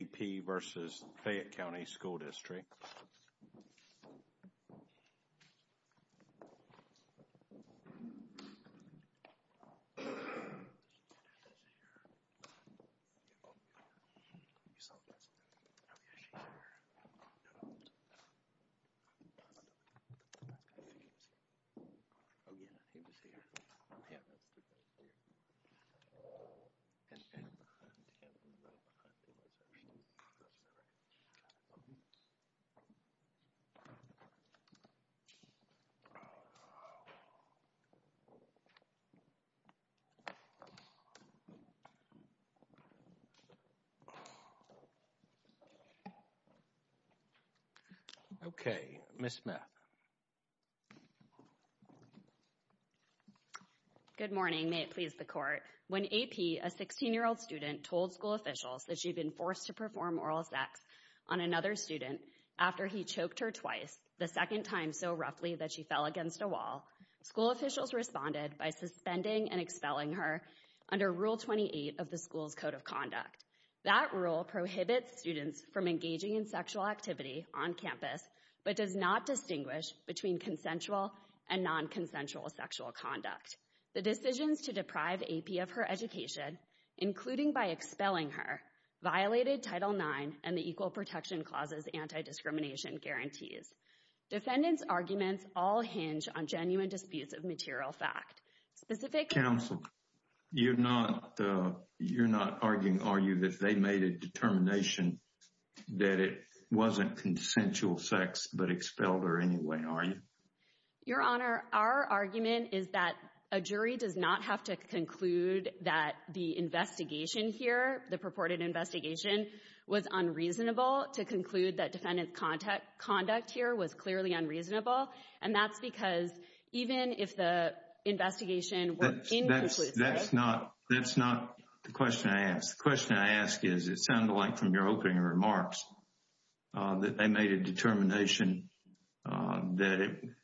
A.P. v. Fayette County School District A.P. v. Fayette County School District Okay, Ms. Smith. Good morning. May it please the Court. When A.P., a 16-year-old student, told school officials that she had been forced to perform oral sex on another student after he choked her twice, the second time so roughly that she fell against a wall, school officials responded by suspending and expelling her under Rule 28 of the school's Code of Conduct. That rule prohibits students from engaging in sexual activity on campus but does not distinguish between consensual and non-consensual sexual conduct. The decisions to deprive A.P. of her education, including by expelling her, violated Title IX and the Equal Protection Clause's anti-discrimination guarantees. Defendants' arguments all hinge on genuine disputes of material fact. Specific— Counsel, you're not arguing, are you, that they made a determination that it wasn't consensual sex but expelled her anyway, are you? Your Honor, our argument is that a jury does not have to conclude that the investigation here, the purported investigation, was unreasonable to conclude that defendant's conduct here was clearly unreasonable, and that's because even if the investigation were inconclusive— That's not the question I asked. The question I asked is, it sounded like from your opening remarks that they made a determination that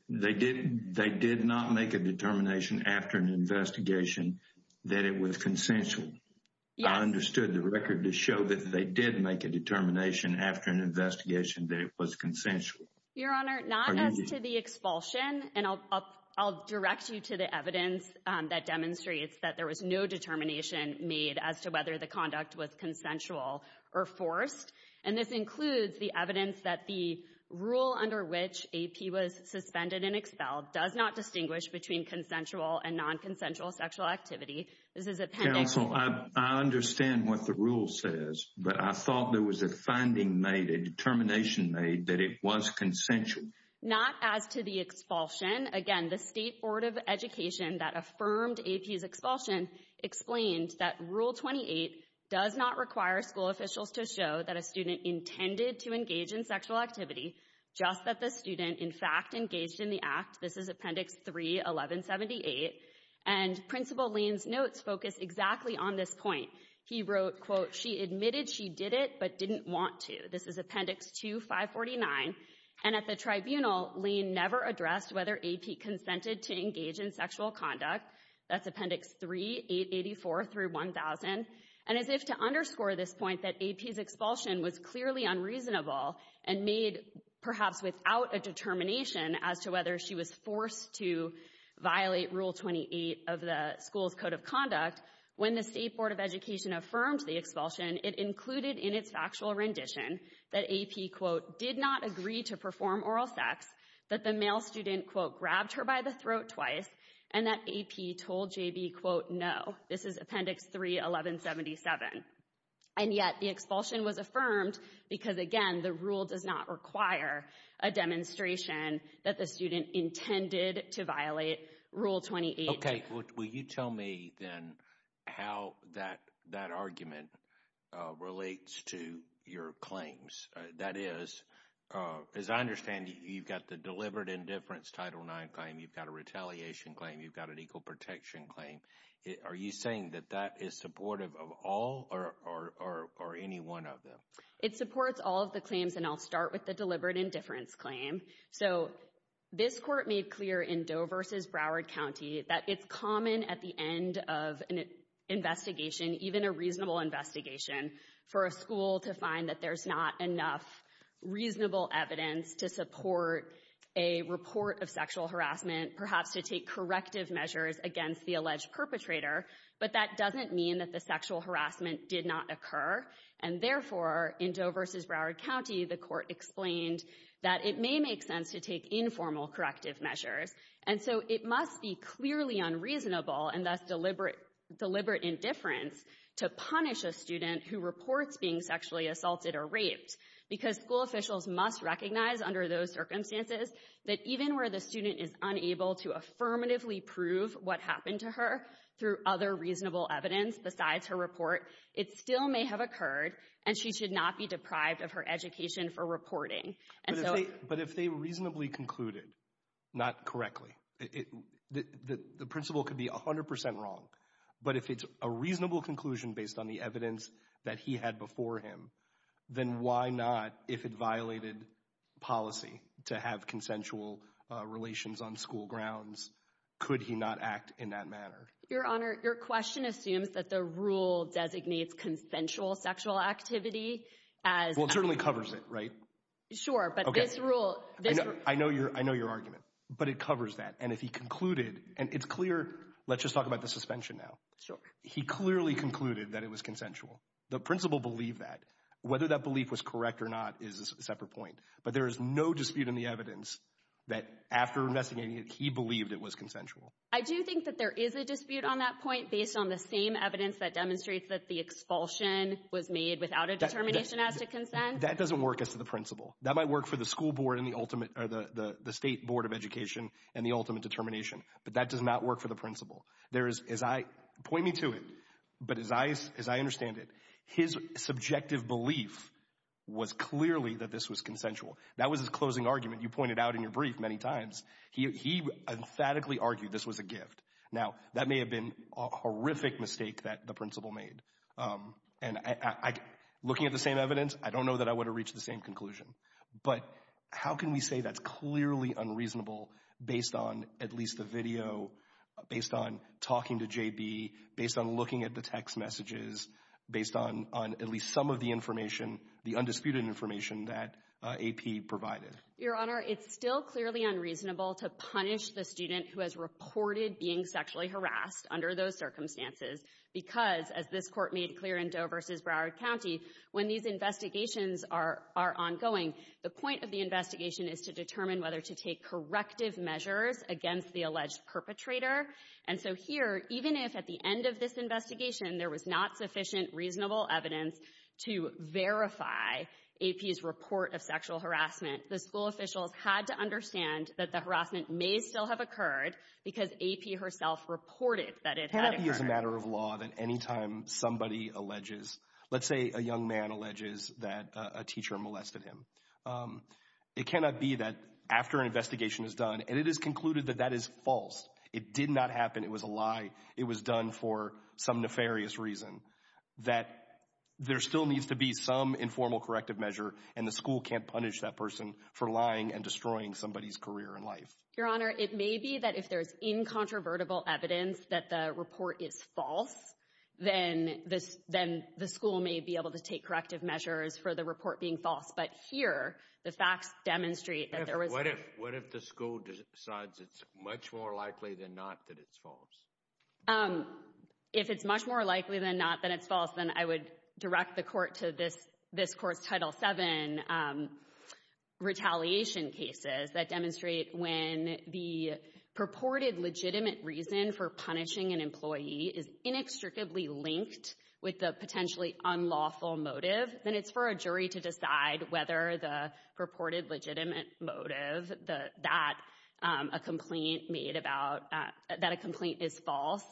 it—they did not make a determination after an investigation that it was consensual. Yes. I understood the record to show that they did make a determination after an investigation that it was consensual. Your Honor, not as to the expulsion, and I'll direct you to the evidence that demonstrates that there was no determination made as to whether the conduct was consensual or forced, and this includes the evidence that the rule under which A.P. was suspended and expelled does not distinguish between consensual and non-consensual sexual activity. Counsel, I understand what the rule says, but I thought there was a finding made, a determination made, that it was consensual. Not as to the expulsion, again, the State Board of Education that affirmed A.P.'s expulsion explained that Rule 28 does not require school officials to show that a student intended to engage in sexual activity, just that the student, in fact, engaged in the act. This is Appendix 3, 1178, and Principal Lane's notes focus exactly on this point. He wrote, quote, she admitted she did it but didn't want to. This is Appendix 2, 549, and at the tribunal, Lane never addressed whether A.P. consented to engage in sexual conduct. That's Appendix 3, 884 through 1000, and as if to underscore this point that A.P.'s expulsion was clearly unreasonable and made perhaps without a determination as to whether she was forced to violate Rule 28 of the school's Code of Conduct, when the State Board of Education affirmed the expulsion, it included in its factual rendition that A.P., quote, did not agree to perform oral sex, that the male student, quote, grabbed her by the throat twice, and that A.P. told J.B., quote, no. This is Appendix 3, 1177, and yet the expulsion was affirmed because, again, the rule does not require a demonstration that the student intended to violate Rule 28. Okay. Will you tell me then how that argument relates to your claims? That is, as I understand, you've got the deliberate indifference Title IX claim, you've got a retaliation claim, you've got an equal protection claim. Are you saying that that is supportive of all or any one of them? It supports all of the claims, and I'll start with the deliberate indifference claim. So this Court made clear in Doe v. Broward County that it's common at the end of an investigation, even a reasonable investigation, for a school to find that there's not enough reasonable evidence to support a report of sexual harassment, perhaps to take corrective measures against the alleged perpetrator, but that doesn't mean that the sexual harassment did not occur, and therefore, in Doe v. Broward County, the Court explained that it may make sense to take informal corrective measures, and so it must be clearly unreasonable and thus deliberate indifference to punish a student who reports being sexually assaulted or raped, because school officials must recognize under those circumstances that even where the student is unable to affirmatively prove what happened to her through other reasonable evidence besides her report, it still may have occurred, and she should not be deprived of her education for reporting. But if they reasonably concluded, not correctly, the principal could be 100% wrong, but if it's a reasonable conclusion based on the evidence that he had before him, then why not, if it violated policy to have consensual relations on school grounds, could he not act in that manner? Your Honor, your question assumes that the rule designates consensual sexual activity as... Well, it certainly covers it, right? Sure, but this rule... I know your argument, but it covers that, and if he concluded, and it's clear, let's just talk about the suspension now. Sure. He clearly concluded that it was consensual. The principal believed that. Whether that belief was correct or not is a separate point, but there is no dispute in the evidence that after investigating it, he believed it was consensual. I do think that there is a dispute on that point based on the same evidence that demonstrates that the expulsion was made without a determination as to consent. That doesn't work as to the principal. That might work for the school board and the ultimate, or the state board of education and the ultimate determination, but that does not work for the principal. Point me to it, but as I understand it, his subjective belief was clearly that this was consensual. That was his closing argument you pointed out in your brief many times. He emphatically argued this was a gift. Now, that may have been a horrific mistake that the principal made, and looking at the same evidence, I don't know that I would have reached the same conclusion, but how can we say that's clearly unreasonable based on at least the video, based on talking to JB, based on looking at the text messages, based on at least some of the information, the undisputed information that AP provided? Your Honor, it's still clearly unreasonable to punish the student who has reported being sexually harassed under those circumstances because, as this court made clear in Doe v. Broward County, when these investigations are ongoing, the point of the investigation is to determine whether to take corrective measures against the alleged perpetrator. And so here, even if at the end of this investigation there was not sufficient reasonable evidence to verify AP's report of sexual harassment, the school officials had to understand that the harassment may still have occurred because AP herself reported that it had occurred. Can't it be as a matter of law that any time somebody alleges, let's say a young man alleges that a teacher molested him, it cannot be that after an investigation is done, and it is concluded that that is false. It did not happen, it was a lie, it was done for some nefarious reason. That there still needs to be some informal corrective measure, and the school can't punish that person for lying and destroying somebody's career and life. Your Honor, it may be that if there's incontrovertible evidence that the report is false, then the school may be able to take corrective measures for the report being false. But here, the facts demonstrate that there was... What if the school decides it's much more likely than not that it's false? If it's much more likely than not that it's false, then I would direct the court to this court's Title VII retaliation cases that demonstrate when the purported legitimate reason for punishing an employee is inextricably linked with the potentially unlawful motive, then it's for a jury to decide whether the purported legitimate motive that a complaint is false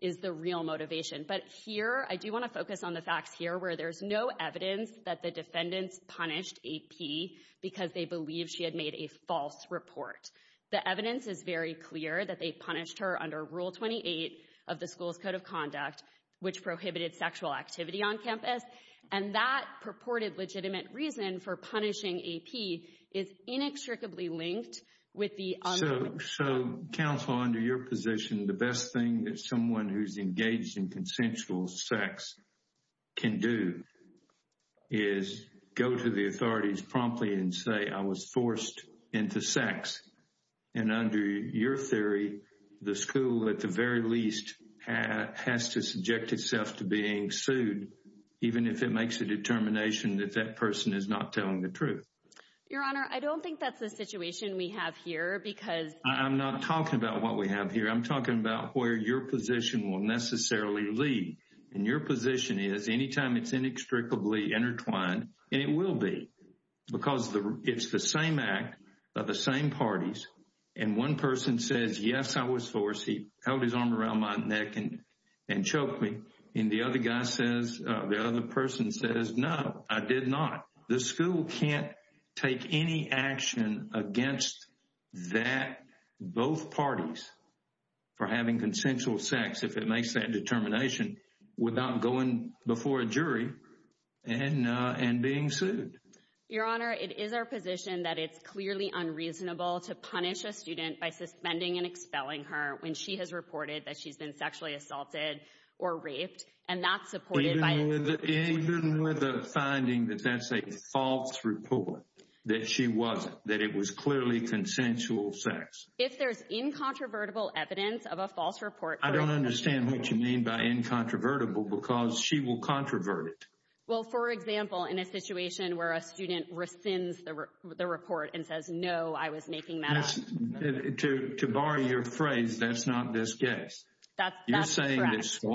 is the real motivation. But here, I do want to focus on the facts here where there's no evidence that the defendants punished AP because they believe she had made a false report. The evidence is very clear that they punished her under Rule 28 of the school's Code of Conduct, which prohibited sexual activity on campus. And that purported legitimate reason for punishing AP is inextricably linked with the... So, counsel, under your position, the best thing that someone who's engaged in consensual sex can do is go to the authorities promptly and say, I was forced into sex. And under your theory, the school, at the very least, has to subject itself to being sued, even if it makes a determination that that person is not telling the truth. Your Honor, I don't think that's the situation we have here because... I'm not talking about what we have here. I'm talking about where your position will necessarily lead. And your position is, anytime it's inextricably intertwined, and it will be, because it's the same act by the same parties. And one person says, yes, I was forced. He held his arm around my neck and choked me. And the other guy says, the other person says, no, I did not. The school can't take any action against that, both parties, for having consensual sex, if it makes that determination, without going before a jury and being sued. Your Honor, it is our position that it's clearly unreasonable to punish a student by suspending and expelling her when she has reported that she's been sexually assaulted or raped. Even with the finding that that's a false report, that she wasn't, that it was clearly consensual sex. If there's incontrovertible evidence of a false report... I don't understand what you mean by incontrovertible, because she will controvert it. Well, for example, in a situation where a student rescinds the report and says, no, I was making that up. To borrow your phrase, that's not this case. You're saying that so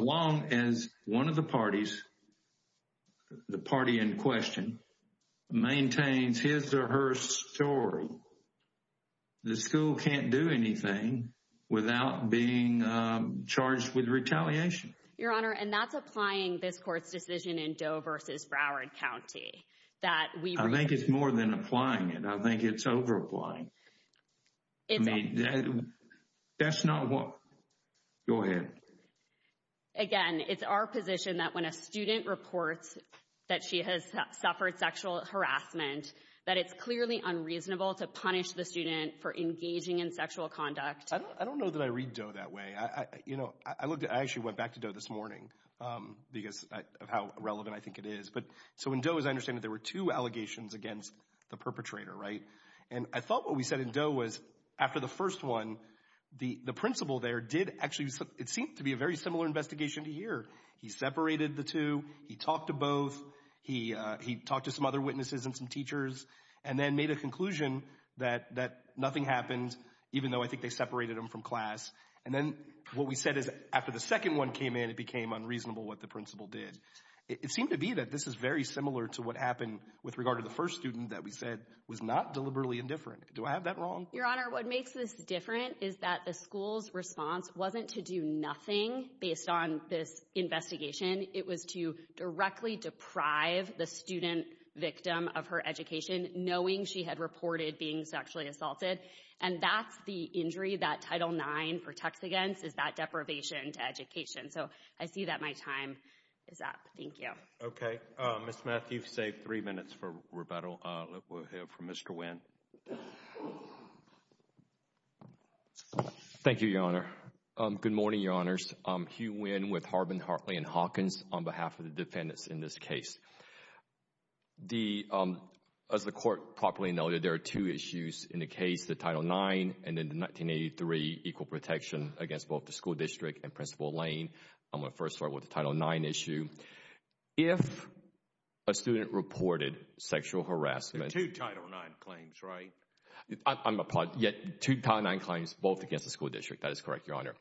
long as one of the parties, the party in question, maintains his or her story, the school can't do anything without being charged with retaliation. Your Honor, and that's applying this court's decision in Doe versus Broward County. I think it's more than applying it. I think it's over applying. That's not what... Go ahead. Again, it's our position that when a student reports that she has suffered sexual harassment, that it's clearly unreasonable to punish the student for engaging in sexual conduct. I don't know that I read Doe that way. You know, I looked, I actually went back to Doe this morning because of how relevant I think it is. But so in Doe, as I understand it, there were two allegations against the perpetrator, right? And I thought what we said in Doe was after the first one, the principal there did actually, it seemed to be a very similar investigation to here. He separated the two. He talked to both. He talked to some other witnesses and some teachers and then made a conclusion that nothing happened, even though I think they separated him from class. And then what we said is after the second one came in, it became unreasonable what the principal did. It seemed to be that this is very similar to what happened with regard to the first student that we said was not deliberately indifferent. Do I have that wrong? Your Honor, what makes this different is that the school's response wasn't to do nothing based on this investigation. It was to directly deprive the student victim of her education, knowing she had reported being sexually assaulted. And that's the injury that Title IX protects against is that deprivation to education. So I see that my time is up. Thank you. Okay. Ms. Matthews, you've saved three minutes for rebuttal. Let's go ahead for Mr. Nguyen. Thank you, Your Honor. Good morning, Your Honors. I'm Hugh Nguyen with Harbin, Hartley & Hawkins on behalf of the defendants in this case. As the court properly noted, there are two issues in the case, the Title IX and the 1983 equal protection against both the school district and Principal Lane. I'm going to first start with the Title IX issue. If a student reported sexual harassment There are two Title IX claims, right? I'm apologizing. Two Title IX claims both against the school district. That is correct, Your Honor.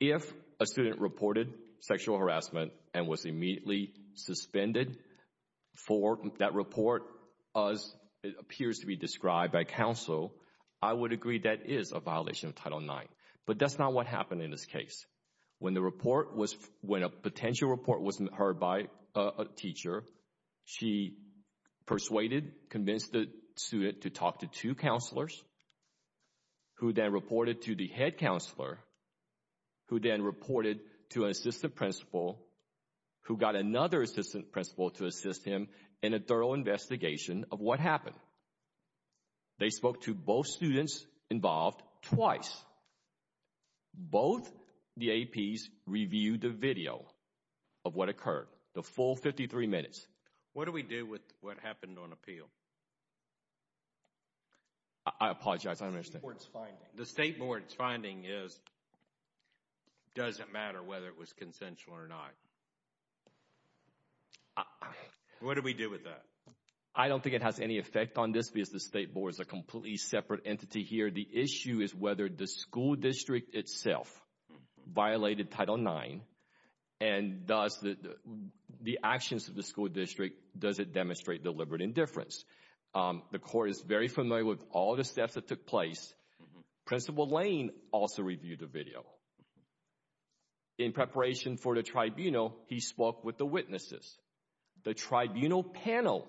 If a student reported sexual harassment and was immediately suspended for that report as it appears to be described by counsel, I would agree that is a violation of Title IX. But that's not what happened in this case. When the report was when a potential report wasn't heard by a teacher, she persuaded, convinced the student to talk to two counselors, who then reported to the head counselor, who then reported to an assistant principal, who got another assistant principal to assist him in a thorough investigation of what happened. They spoke to both students involved twice. Both the APs reviewed the video of what occurred. The full 53 minutes. What do we do with what happened on appeal? I apologize. I don't understand. The State Board's finding is it doesn't matter whether it was consensual or not. What do we do with that? I don't think it has any effect on this because the State Board is a completely separate entity here. The issue is whether the school district itself violated Title IX, and thus the actions of the school district, does it demonstrate deliberate indifference? The court is very familiar with all the steps that took place. Principal Lane also reviewed the video. In preparation for the tribunal, he spoke with the witnesses. The tribunal panel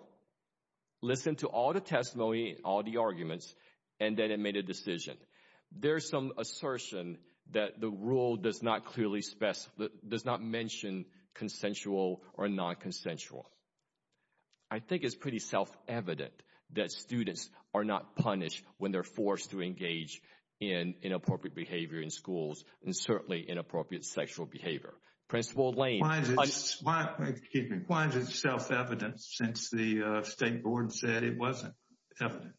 listened to all the testimony, all the arguments, and then it made a decision. There's some assertion that the rule does not clearly specify, does not mention consensual or non-consensual. I think it's pretty self-evident that students are not punished when they're forced to engage in inappropriate behavior in schools, and certainly inappropriate sexual behavior. Principal Lane— Why is it self-evident since the State Board said it wasn't evident?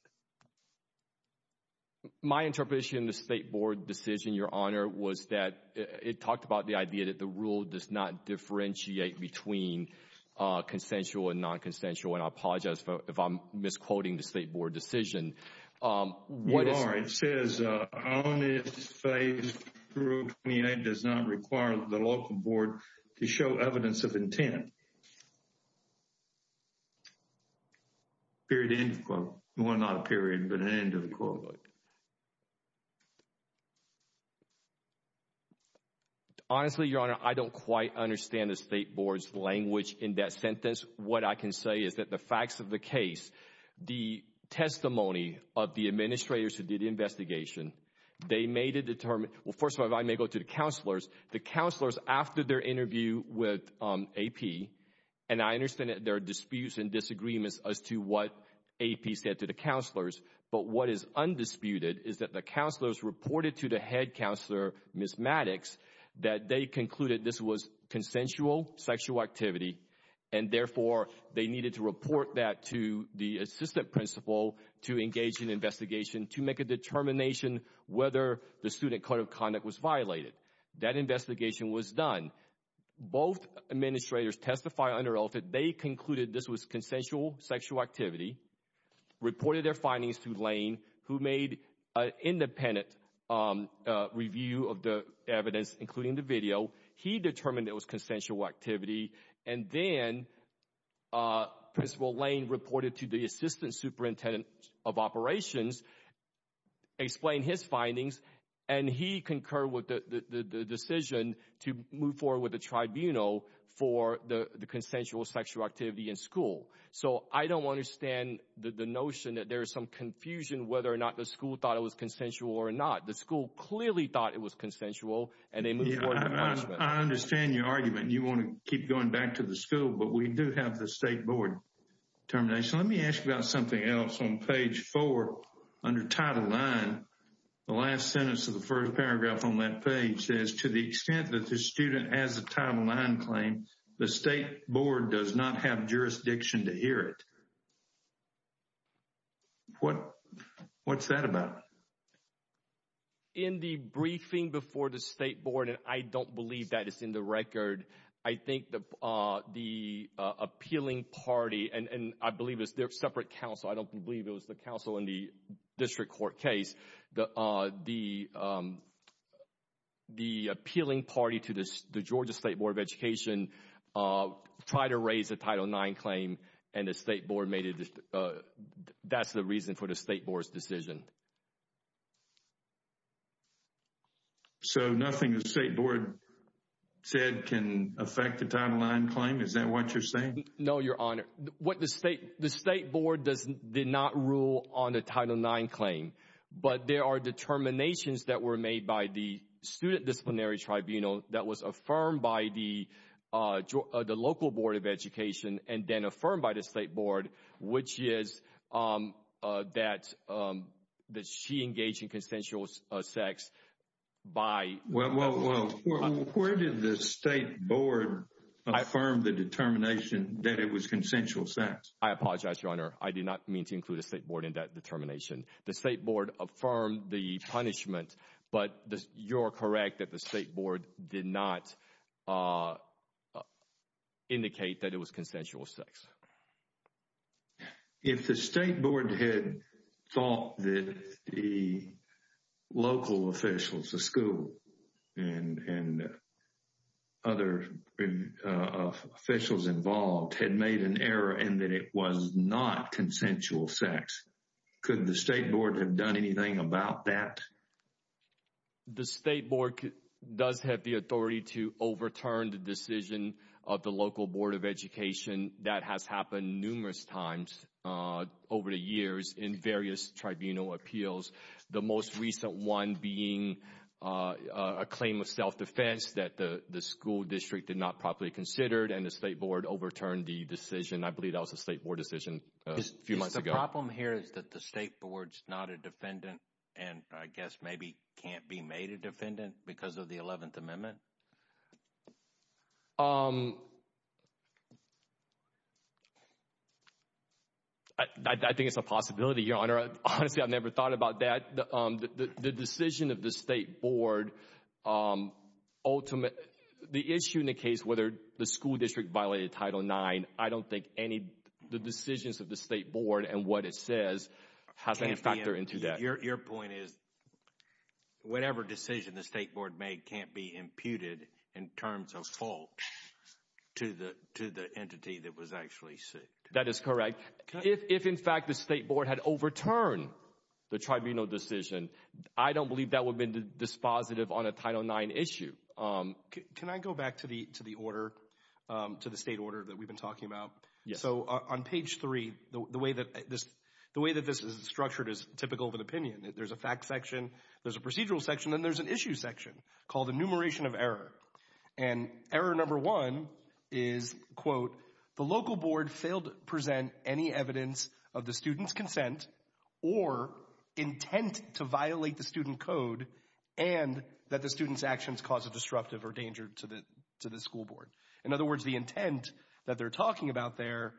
My interpretation of the State Board decision, Your Honor, was that it talked about the idea that the rule does not differentiate between consensual and non-consensual. And I apologize if I'm misquoting the State Board decision. You are. It says, on its face, Rule 28 does not require the local board to show evidence of intent. Period. End of quote. Well, not a period, but an end of the quote. Honestly, Your Honor, I don't quite understand the State Board's language in that sentence. What I can say is that the facts of the case, the testimony of the administrators who did the investigation, they made a determined—well, first of all, I may go to the counselors. The counselors, after their interview with AP, and I understand that there are disputes and disagreements as to what AP said to the counselors, but what is undisputed is that the counselors reported to the head counselor, Ms. Maddox, that they concluded this was consensual sexual activity, and therefore they needed to report that to the assistant principal to engage in investigation to make a determination whether the student code of conduct was violated. That investigation was done. Both administrators testified under ELFID. They concluded this was consensual sexual activity, reported their findings to Lane, who made an independent review of the evidence, including the video. He determined it was consensual activity, and then Principal Lane reported to the assistant superintendent of operations, explained his findings, and he concurred with the decision to move forward with the tribunal for the consensual sexual activity in school. So I don't understand the notion that there is some confusion whether or not the school thought it was consensual or not. The school clearly thought it was consensual, and they moved forward with the punishment. I understand your argument. You want to keep going back to the school, but we do have the State Board determination. Let me ask you about something else. On page 4, under Title IX, the last sentence of the first paragraph on that page says, to the extent that the student has a Title IX claim, the State Board does not have jurisdiction to hear it. What's that about? In the briefing before the State Board, and I don't believe that is in the record, I think the appealing party, and I believe it's their separate counsel. I don't believe it was the counsel in the district court case. The appealing party to the Georgia State Board of Education tried to raise a Title IX claim, and the State Board made it. That's the reason for the State Board's decision. So nothing the State Board said can affect the Title IX claim? Is that what you're saying? No, Your Honor. What the State Board did not rule on the Title IX claim, but there are determinations that were made by the Student Disciplinary Tribunal that was affirmed by the local Board of Education and then affirmed by the State Board, which is that she engaged in consensual sex by— Well, where did the State Board affirm the determination that it was consensual sex? I apologize, Your Honor. I did not mean to include the State Board in that determination. The State Board affirmed the punishment, but you're correct that the State Board did not indicate that it was consensual sex. If the State Board had thought that the local officials, the school, and other officials involved had made an error and that it was not consensual sex, could the State Board have done anything about that? The State Board does have the authority to overturn the decision of the local Board of Education. That has happened numerous times over the years in various tribunal appeals, the most recent one being a claim of self-defense that the school district did not properly consider, and the State Board overturned the decision. I believe that was the State Board decision a few months ago. The problem here is that the State Board is not a defendant and I guess maybe can't be made a defendant because of the 11th Amendment? I think it's a possibility, Your Honor. Honestly, I've never thought about that. The decision of the State Board— The issue in the case whether the school district violated Title IX, I don't think the decisions of the State Board and what it says have any factor into that. Your point is whatever decision the State Board made can't be imputed in terms of fault to the entity that was actually sued. That is correct. If, in fact, the State Board had overturned the tribunal decision, I don't believe that would have been dispositive on a Title IX issue. Can I go back to the state order that we've been talking about? Yes. On page 3, the way that this is structured is typical of an opinion. There's a fact section, there's a procedural section, and there's an issue section called enumeration of error. And error number one is, quote, the local board failed to present any evidence of the student's consent or intent to violate the student code and that the student's actions caused a disruptive or danger to the school board. In other words, the intent that they're talking about there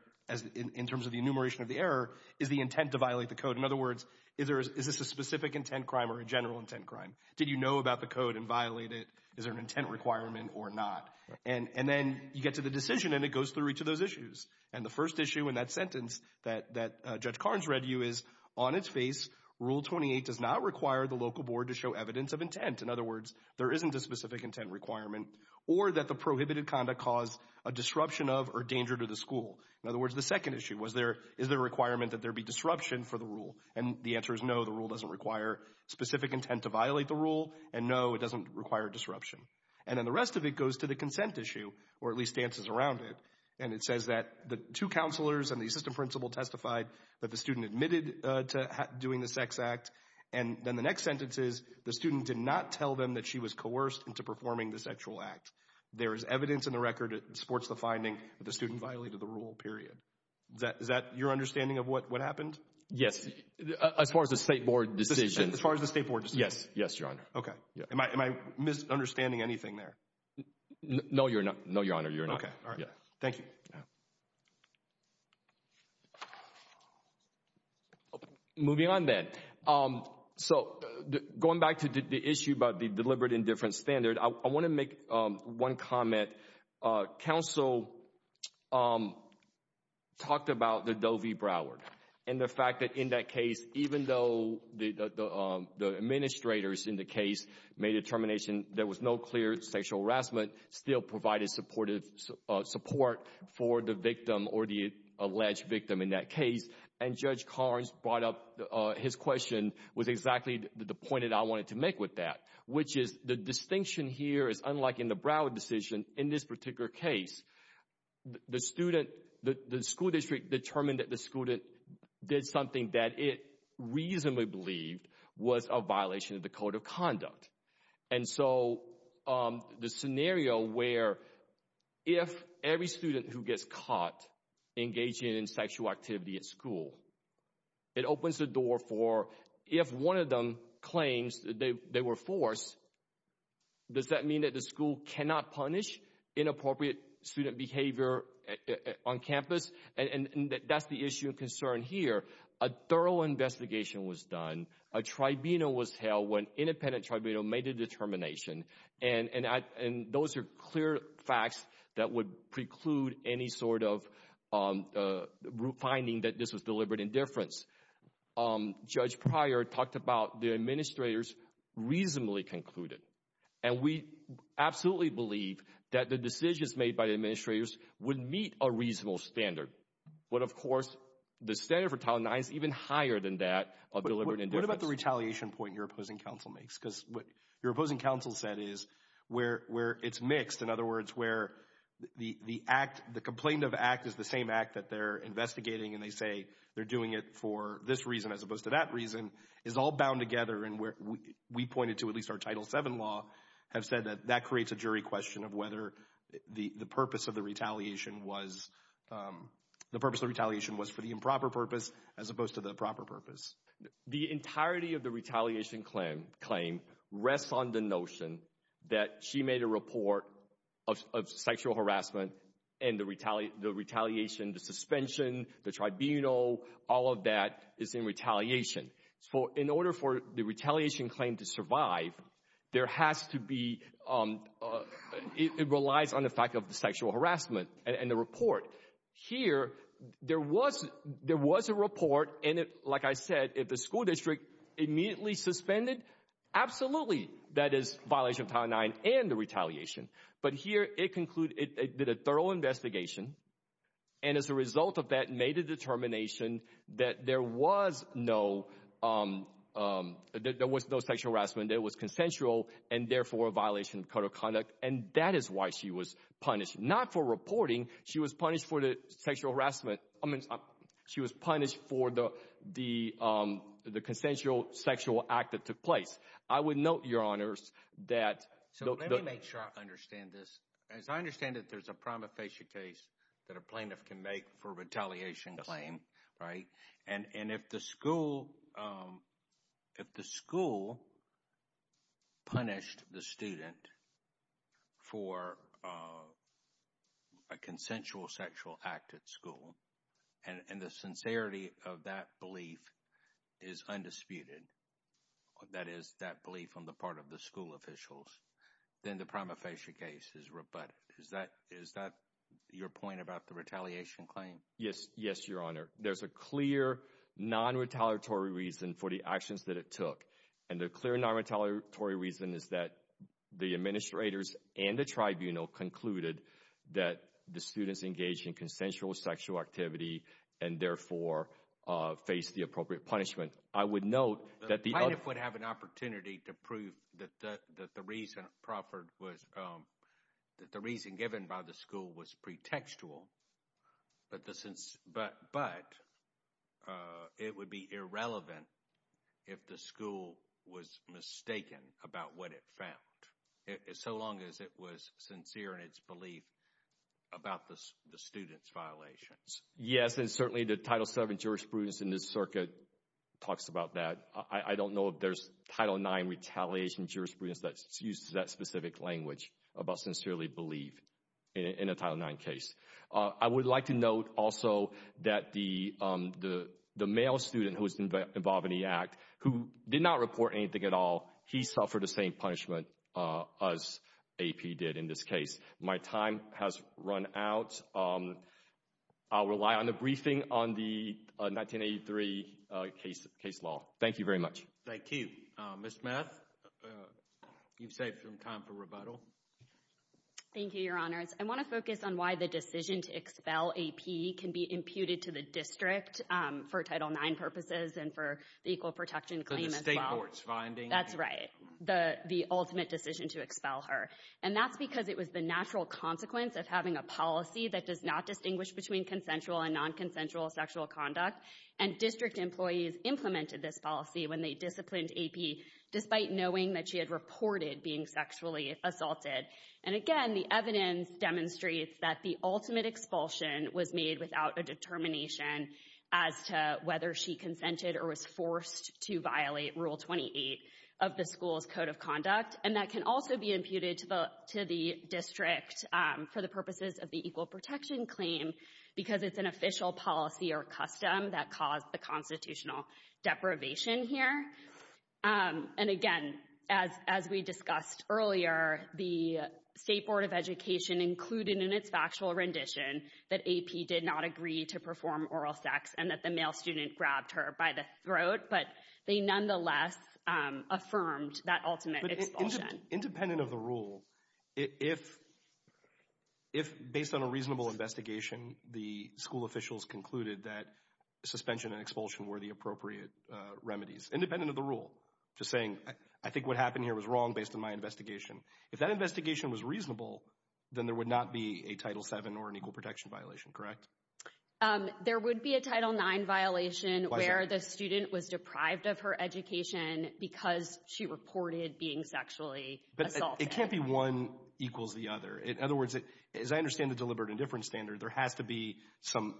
in terms of the enumeration of the error is the intent to violate the code. In other words, is this a specific intent crime or a general intent crime? Did you know about the code and violate it? Is there an intent requirement or not? And then you get to the decision, and it goes through each of those issues. And the first issue in that sentence that Judge Carnes read you is, on its face, Rule 28 does not require the local board to show evidence of intent. In other words, there isn't a specific intent requirement or that the prohibited conduct caused a disruption of or danger to the school. In other words, the second issue was, is there a requirement that there be disruption for the rule? And the answer is no, the rule doesn't require specific intent to violate the rule, and no, it doesn't require disruption. And then the rest of it goes to the consent issue, or at least stances around it. And it says that the two counselors and the assistant principal testified that the student admitted to doing the sex act. And then the next sentence is, the student did not tell them that she was coerced into performing the sexual act. There is evidence in the record that supports the finding that the student violated the rule, period. Is that your understanding of what happened? Yes, as far as the State Board decision. As far as the State Board decision? Yes, Your Honor. Okay. Am I misunderstanding anything there? No, Your Honor, you're not. Okay, all right. Thank you. Moving on then. So going back to the issue about the deliberate indifference standard, I want to make one comment. Counsel talked about the Doe v. Broward and the fact that in that case, even though the administrators in the case made a determination, there was no clear sexual harassment, still provided support for the victim or the alleged victim in that case. And Judge Carnes brought up his question with exactly the point that I wanted to make with that, which is the distinction here is unlike in the Broward decision, in this particular case, the student, the school district determined that the student did something that it reasonably believed was a violation of the code of conduct. And so the scenario where if every student who gets caught engaging in sexual activity at school, it opens the door for if one of them claims that they were forced, does that mean that the school cannot punish inappropriate student behavior on campus? And that's the issue of concern here. A thorough investigation was done. A tribunal was held when independent tribunal made a determination. And those are clear facts that would preclude any sort of finding that this was deliberate indifference. Judge Pryor talked about the administrators reasonably concluded. And we absolutely believe that the decisions made by the administrators would meet a reasonable standard. But, of course, the standard for Title IX is even higher than that of deliberate indifference. What about the retaliation point your opposing counsel makes? Because what your opposing counsel said is where it's mixed, in other words, where the complaint of act is the same act that they're investigating, and they say they're doing it for this reason as opposed to that reason, is all bound together. And we pointed to at least our Title VII law have said that that creates a jury question of whether the purpose of the retaliation was for the improper purpose as opposed to the proper purpose. The entirety of the retaliation claim rests on the notion that she made a report of sexual harassment, and the retaliation, the suspension, the tribunal, all of that is in retaliation. So in order for the retaliation claim to survive, there has to be, it relies on the fact of the sexual harassment and the report. Here, there was a report, and it, like I said, if the school district immediately suspended, absolutely that is violation of Title IX and the retaliation. But here it did a thorough investigation, and as a result of that made a determination that there was no sexual harassment, that it was consensual and therefore a violation of code of conduct, and that is why she was punished. Not for reporting. She was punished for the sexual harassment. I mean she was punished for the consensual sexual act that took place. I would note, Your Honors, that— So let me make sure I understand this. As I understand it, there's a prima facie case that a plaintiff can make for retaliation claim, right? And if the school punished the student for a consensual sexual act at school, and the sincerity of that belief is undisputed, that is that belief on the part of the school officials, then the prima facie case is rebutted. Is that your point about the retaliation claim? Yes, Your Honor. There's a clear non-retaliatory reason for the actions that it took, and the clear non-retaliatory reason is that the administrators and the tribunal concluded that the students engaged in consensual sexual activity and therefore faced the appropriate punishment. I would note that the— The plaintiff would have an opportunity to prove that the reason proffered was— that the reason given by the school was pretextual, but it would be irrelevant if the school was mistaken about what it found. So long as it was sincere in its belief about the student's violations. Yes, and certainly the Title VII jurisprudence in this circuit talks about that. I don't know if there's Title IX retaliation jurisprudence that's used to that specific language about sincerely believe in a Title IX case. I would like to note also that the male student who was involved in the act, who did not report anything at all, he suffered the same punishment as AP did in this case. My time has run out. I'll rely on the briefing on the 1983 case law. Thank you very much. Thank you. Ms. Math, you've saved some time for rebuttal. Thank you, Your Honors. I want to focus on why the decision to expel AP can be imputed to the district for Title IX purposes and for the equal protection claim as well. So the state court's finding? That's right. The ultimate decision to expel her. And that's because it was the natural consequence of having a policy that does not distinguish between consensual and non-consensual sexual conduct. And district employees implemented this policy when they disciplined AP, despite knowing that she had reported being sexually assaulted. And again, the evidence demonstrates that the ultimate expulsion was made without a determination as to whether she consented or was forced to violate Rule 28 of the school's Code of Conduct. And that can also be imputed to the district for the purposes of the equal protection claim because it's an official policy or custom that caused the constitutional deprivation here. And again, as we discussed earlier, the State Board of Education included in its factual rendition that AP did not agree to perform oral sex and that the male student grabbed her by the throat, but they nonetheless affirmed that ultimate expulsion. Independent of the rule, if, based on a reasonable investigation, the school officials concluded that suspension and expulsion were the appropriate remedies. Independent of the rule, just saying, I think what happened here was wrong based on my investigation. If that investigation was reasonable, then there would not be a Title VII or an equal protection violation, correct? There would be a Title IX violation where the student was deprived of her education because she reported being sexually assaulted. But it can't be one equals the other. In other words, as I understand the deliberate indifference standard, there has to be some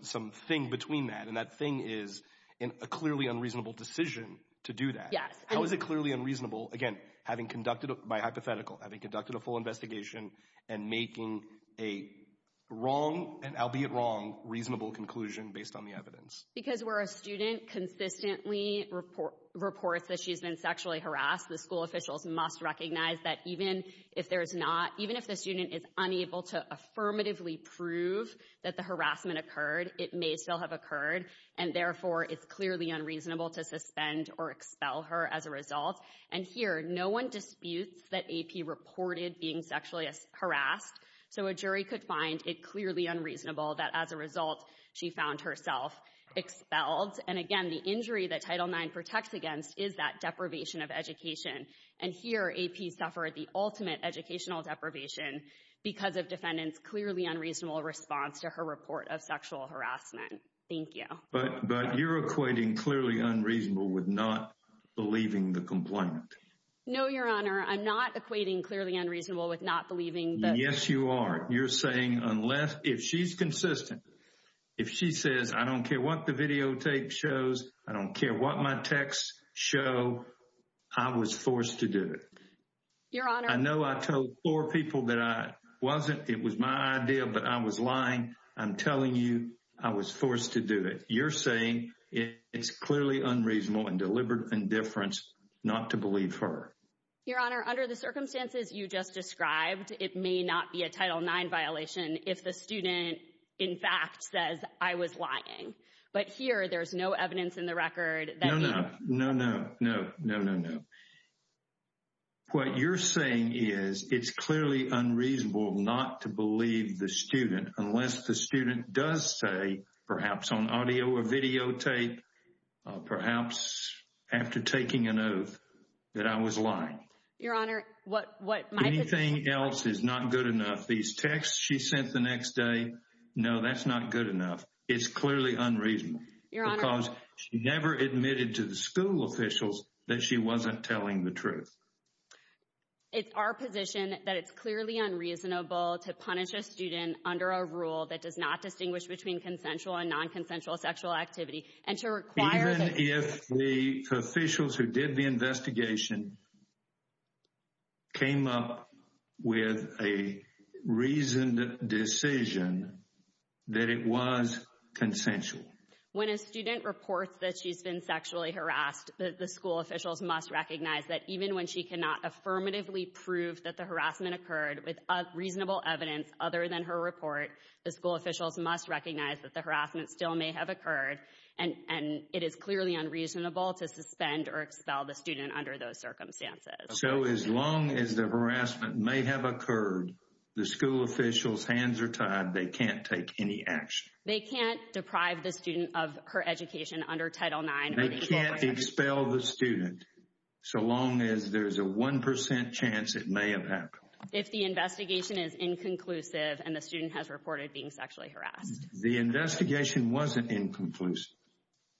thing between that. And that thing is a clearly unreasonable decision to do that. How is it clearly unreasonable, again, having conducted, by hypothetical, having conducted a full investigation and making a wrong, and albeit wrong, reasonable conclusion based on the evidence? Because where a student consistently reports that she's been sexually harassed, the school officials must recognize that even if the student is unable to affirmatively prove that the harassment occurred, it may still have occurred. And therefore, it's clearly unreasonable to suspend or expel her as a result. And here, no one disputes that AP reported being sexually harassed. So a jury could find it clearly unreasonable that, as a result, she found herself expelled. And again, the injury that Title IX protects against is that deprivation of education. And here, AP suffered the ultimate educational deprivation because of defendant's clearly unreasonable response to her report of sexual harassment. Thank you. But you're equating clearly unreasonable with not believing the complaint. No, Your Honor. I'm not equating clearly unreasonable with not believing the complaint. Yes, you are. You're saying unless, if she's consistent, if she says, I don't care what the videotape shows, I don't care what my texts show, I was forced to do it. Your Honor. I know I told four people that I wasn't, it was my idea, but I was lying. I'm telling you, I was forced to do it. You're saying it's clearly unreasonable and deliberate indifference not to believe her. Your Honor, under the circumstances you just described, it may not be a Title IX violation if the student, in fact, says I was lying. But here, there's no evidence in the record that you... No, no, no, no, no, no, no. What you're saying is it's clearly unreasonable not to believe the student unless the student does say, perhaps on audio or videotape, perhaps after taking an oath, that I was lying. Your Honor, what my... Anything else is not good enough. These texts she sent the next day, no, that's not good enough. It's clearly unreasonable because she never admitted to the school officials that she wasn't telling the truth. It's our position that it's clearly unreasonable to punish a student under a rule that does not distinguish between consensual and non-consensual sexual activity Even if the officials who did the investigation came up with a reasoned decision that it was consensual. When a student reports that she's been sexually harassed, the school officials must recognize that even when she cannot affirmatively prove that the harassment occurred with reasonable evidence other than her report, the school officials must recognize that the harassment still may have occurred and it is clearly unreasonable to suspend or expel the student under those circumstances. So as long as the harassment may have occurred, the school officials' hands are tied. They can't take any action. They can't deprive the student of her education under Title IX. They can't expel the student so long as there's a 1% chance it may have happened. If the investigation is inconclusive and the student has reported being sexually harassed. The investigation wasn't inconclusive.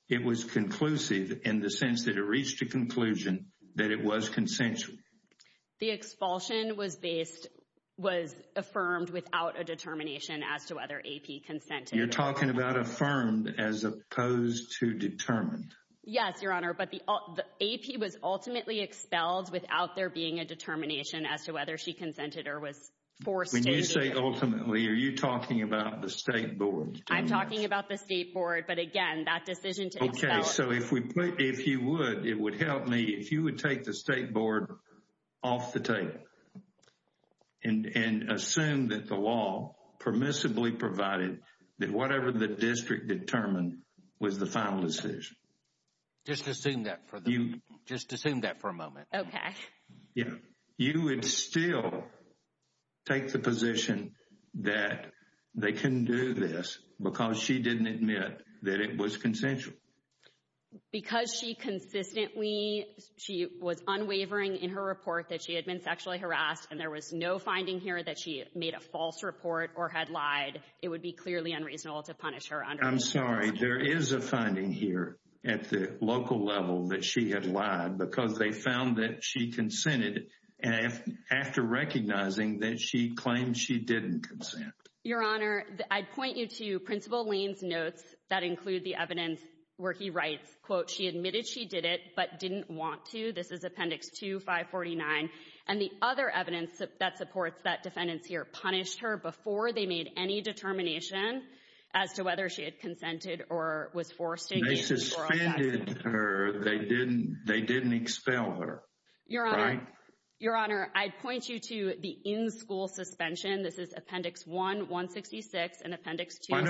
It was conclusive in the sense that it reached a conclusion that it was consensual. The expulsion was affirmed without a determination as to whether AP consented. You're talking about affirmed as opposed to determined. Yes, Your Honor, but AP was ultimately expelled without there being a determination as to whether she consented or was forced to. When you say ultimately, are you talking about the State Board? I'm talking about the State Board, but again, that decision to expel. Okay, so if you would, it would help me if you would take the State Board off the tape and assume that the law permissibly provided that whatever the district determined was the final decision. Just assume that for a moment. Okay. You would still take the position that they couldn't do this because she didn't admit that it was consensual. Because she consistently, she was unwavering in her report that she had been sexually harassed and there was no finding here that she made a false report or had lied. It would be clearly unreasonable to punish her. I'm sorry. There is a finding here at the local level that she had lied because they found that she consented after recognizing that she claimed she didn't consent. Your Honor, I'd point you to Principal Lane's notes that include the evidence where he writes, quote, she admitted she did it but didn't want to. This is Appendix 2, 549. And the other evidence that supports that defendants here punished her before they made any determination as to whether she had consented or was forced to. They suspended her. They didn't expel her. Your Honor, I'd point you to the in-school suspension. This is Appendix 1, 166 and Appendix 2, 7.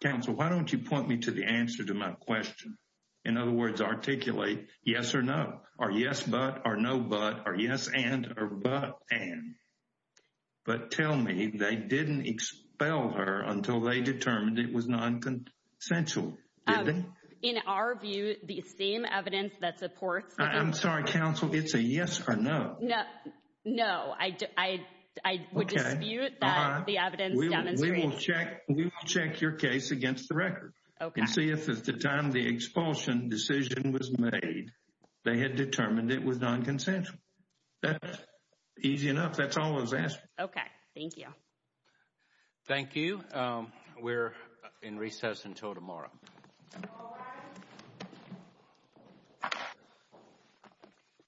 Counsel, why don't you point me to the answer to my question? In other words, articulate yes or no, or yes but, or no but, or yes and, or but and. But tell me they didn't expel her until they determined it was non-consensual. In our view, the same evidence that supports the defendant. I'm sorry, Counsel. It's a yes or no. No, I would dispute that the evidence demonstrates. We will check your case against the record. Okay. And see if at the time the expulsion decision was made, they had determined it was non-consensual. Easy enough. That's all I was asking. Okay. Thank you. Thank you. We're in recess until tomorrow.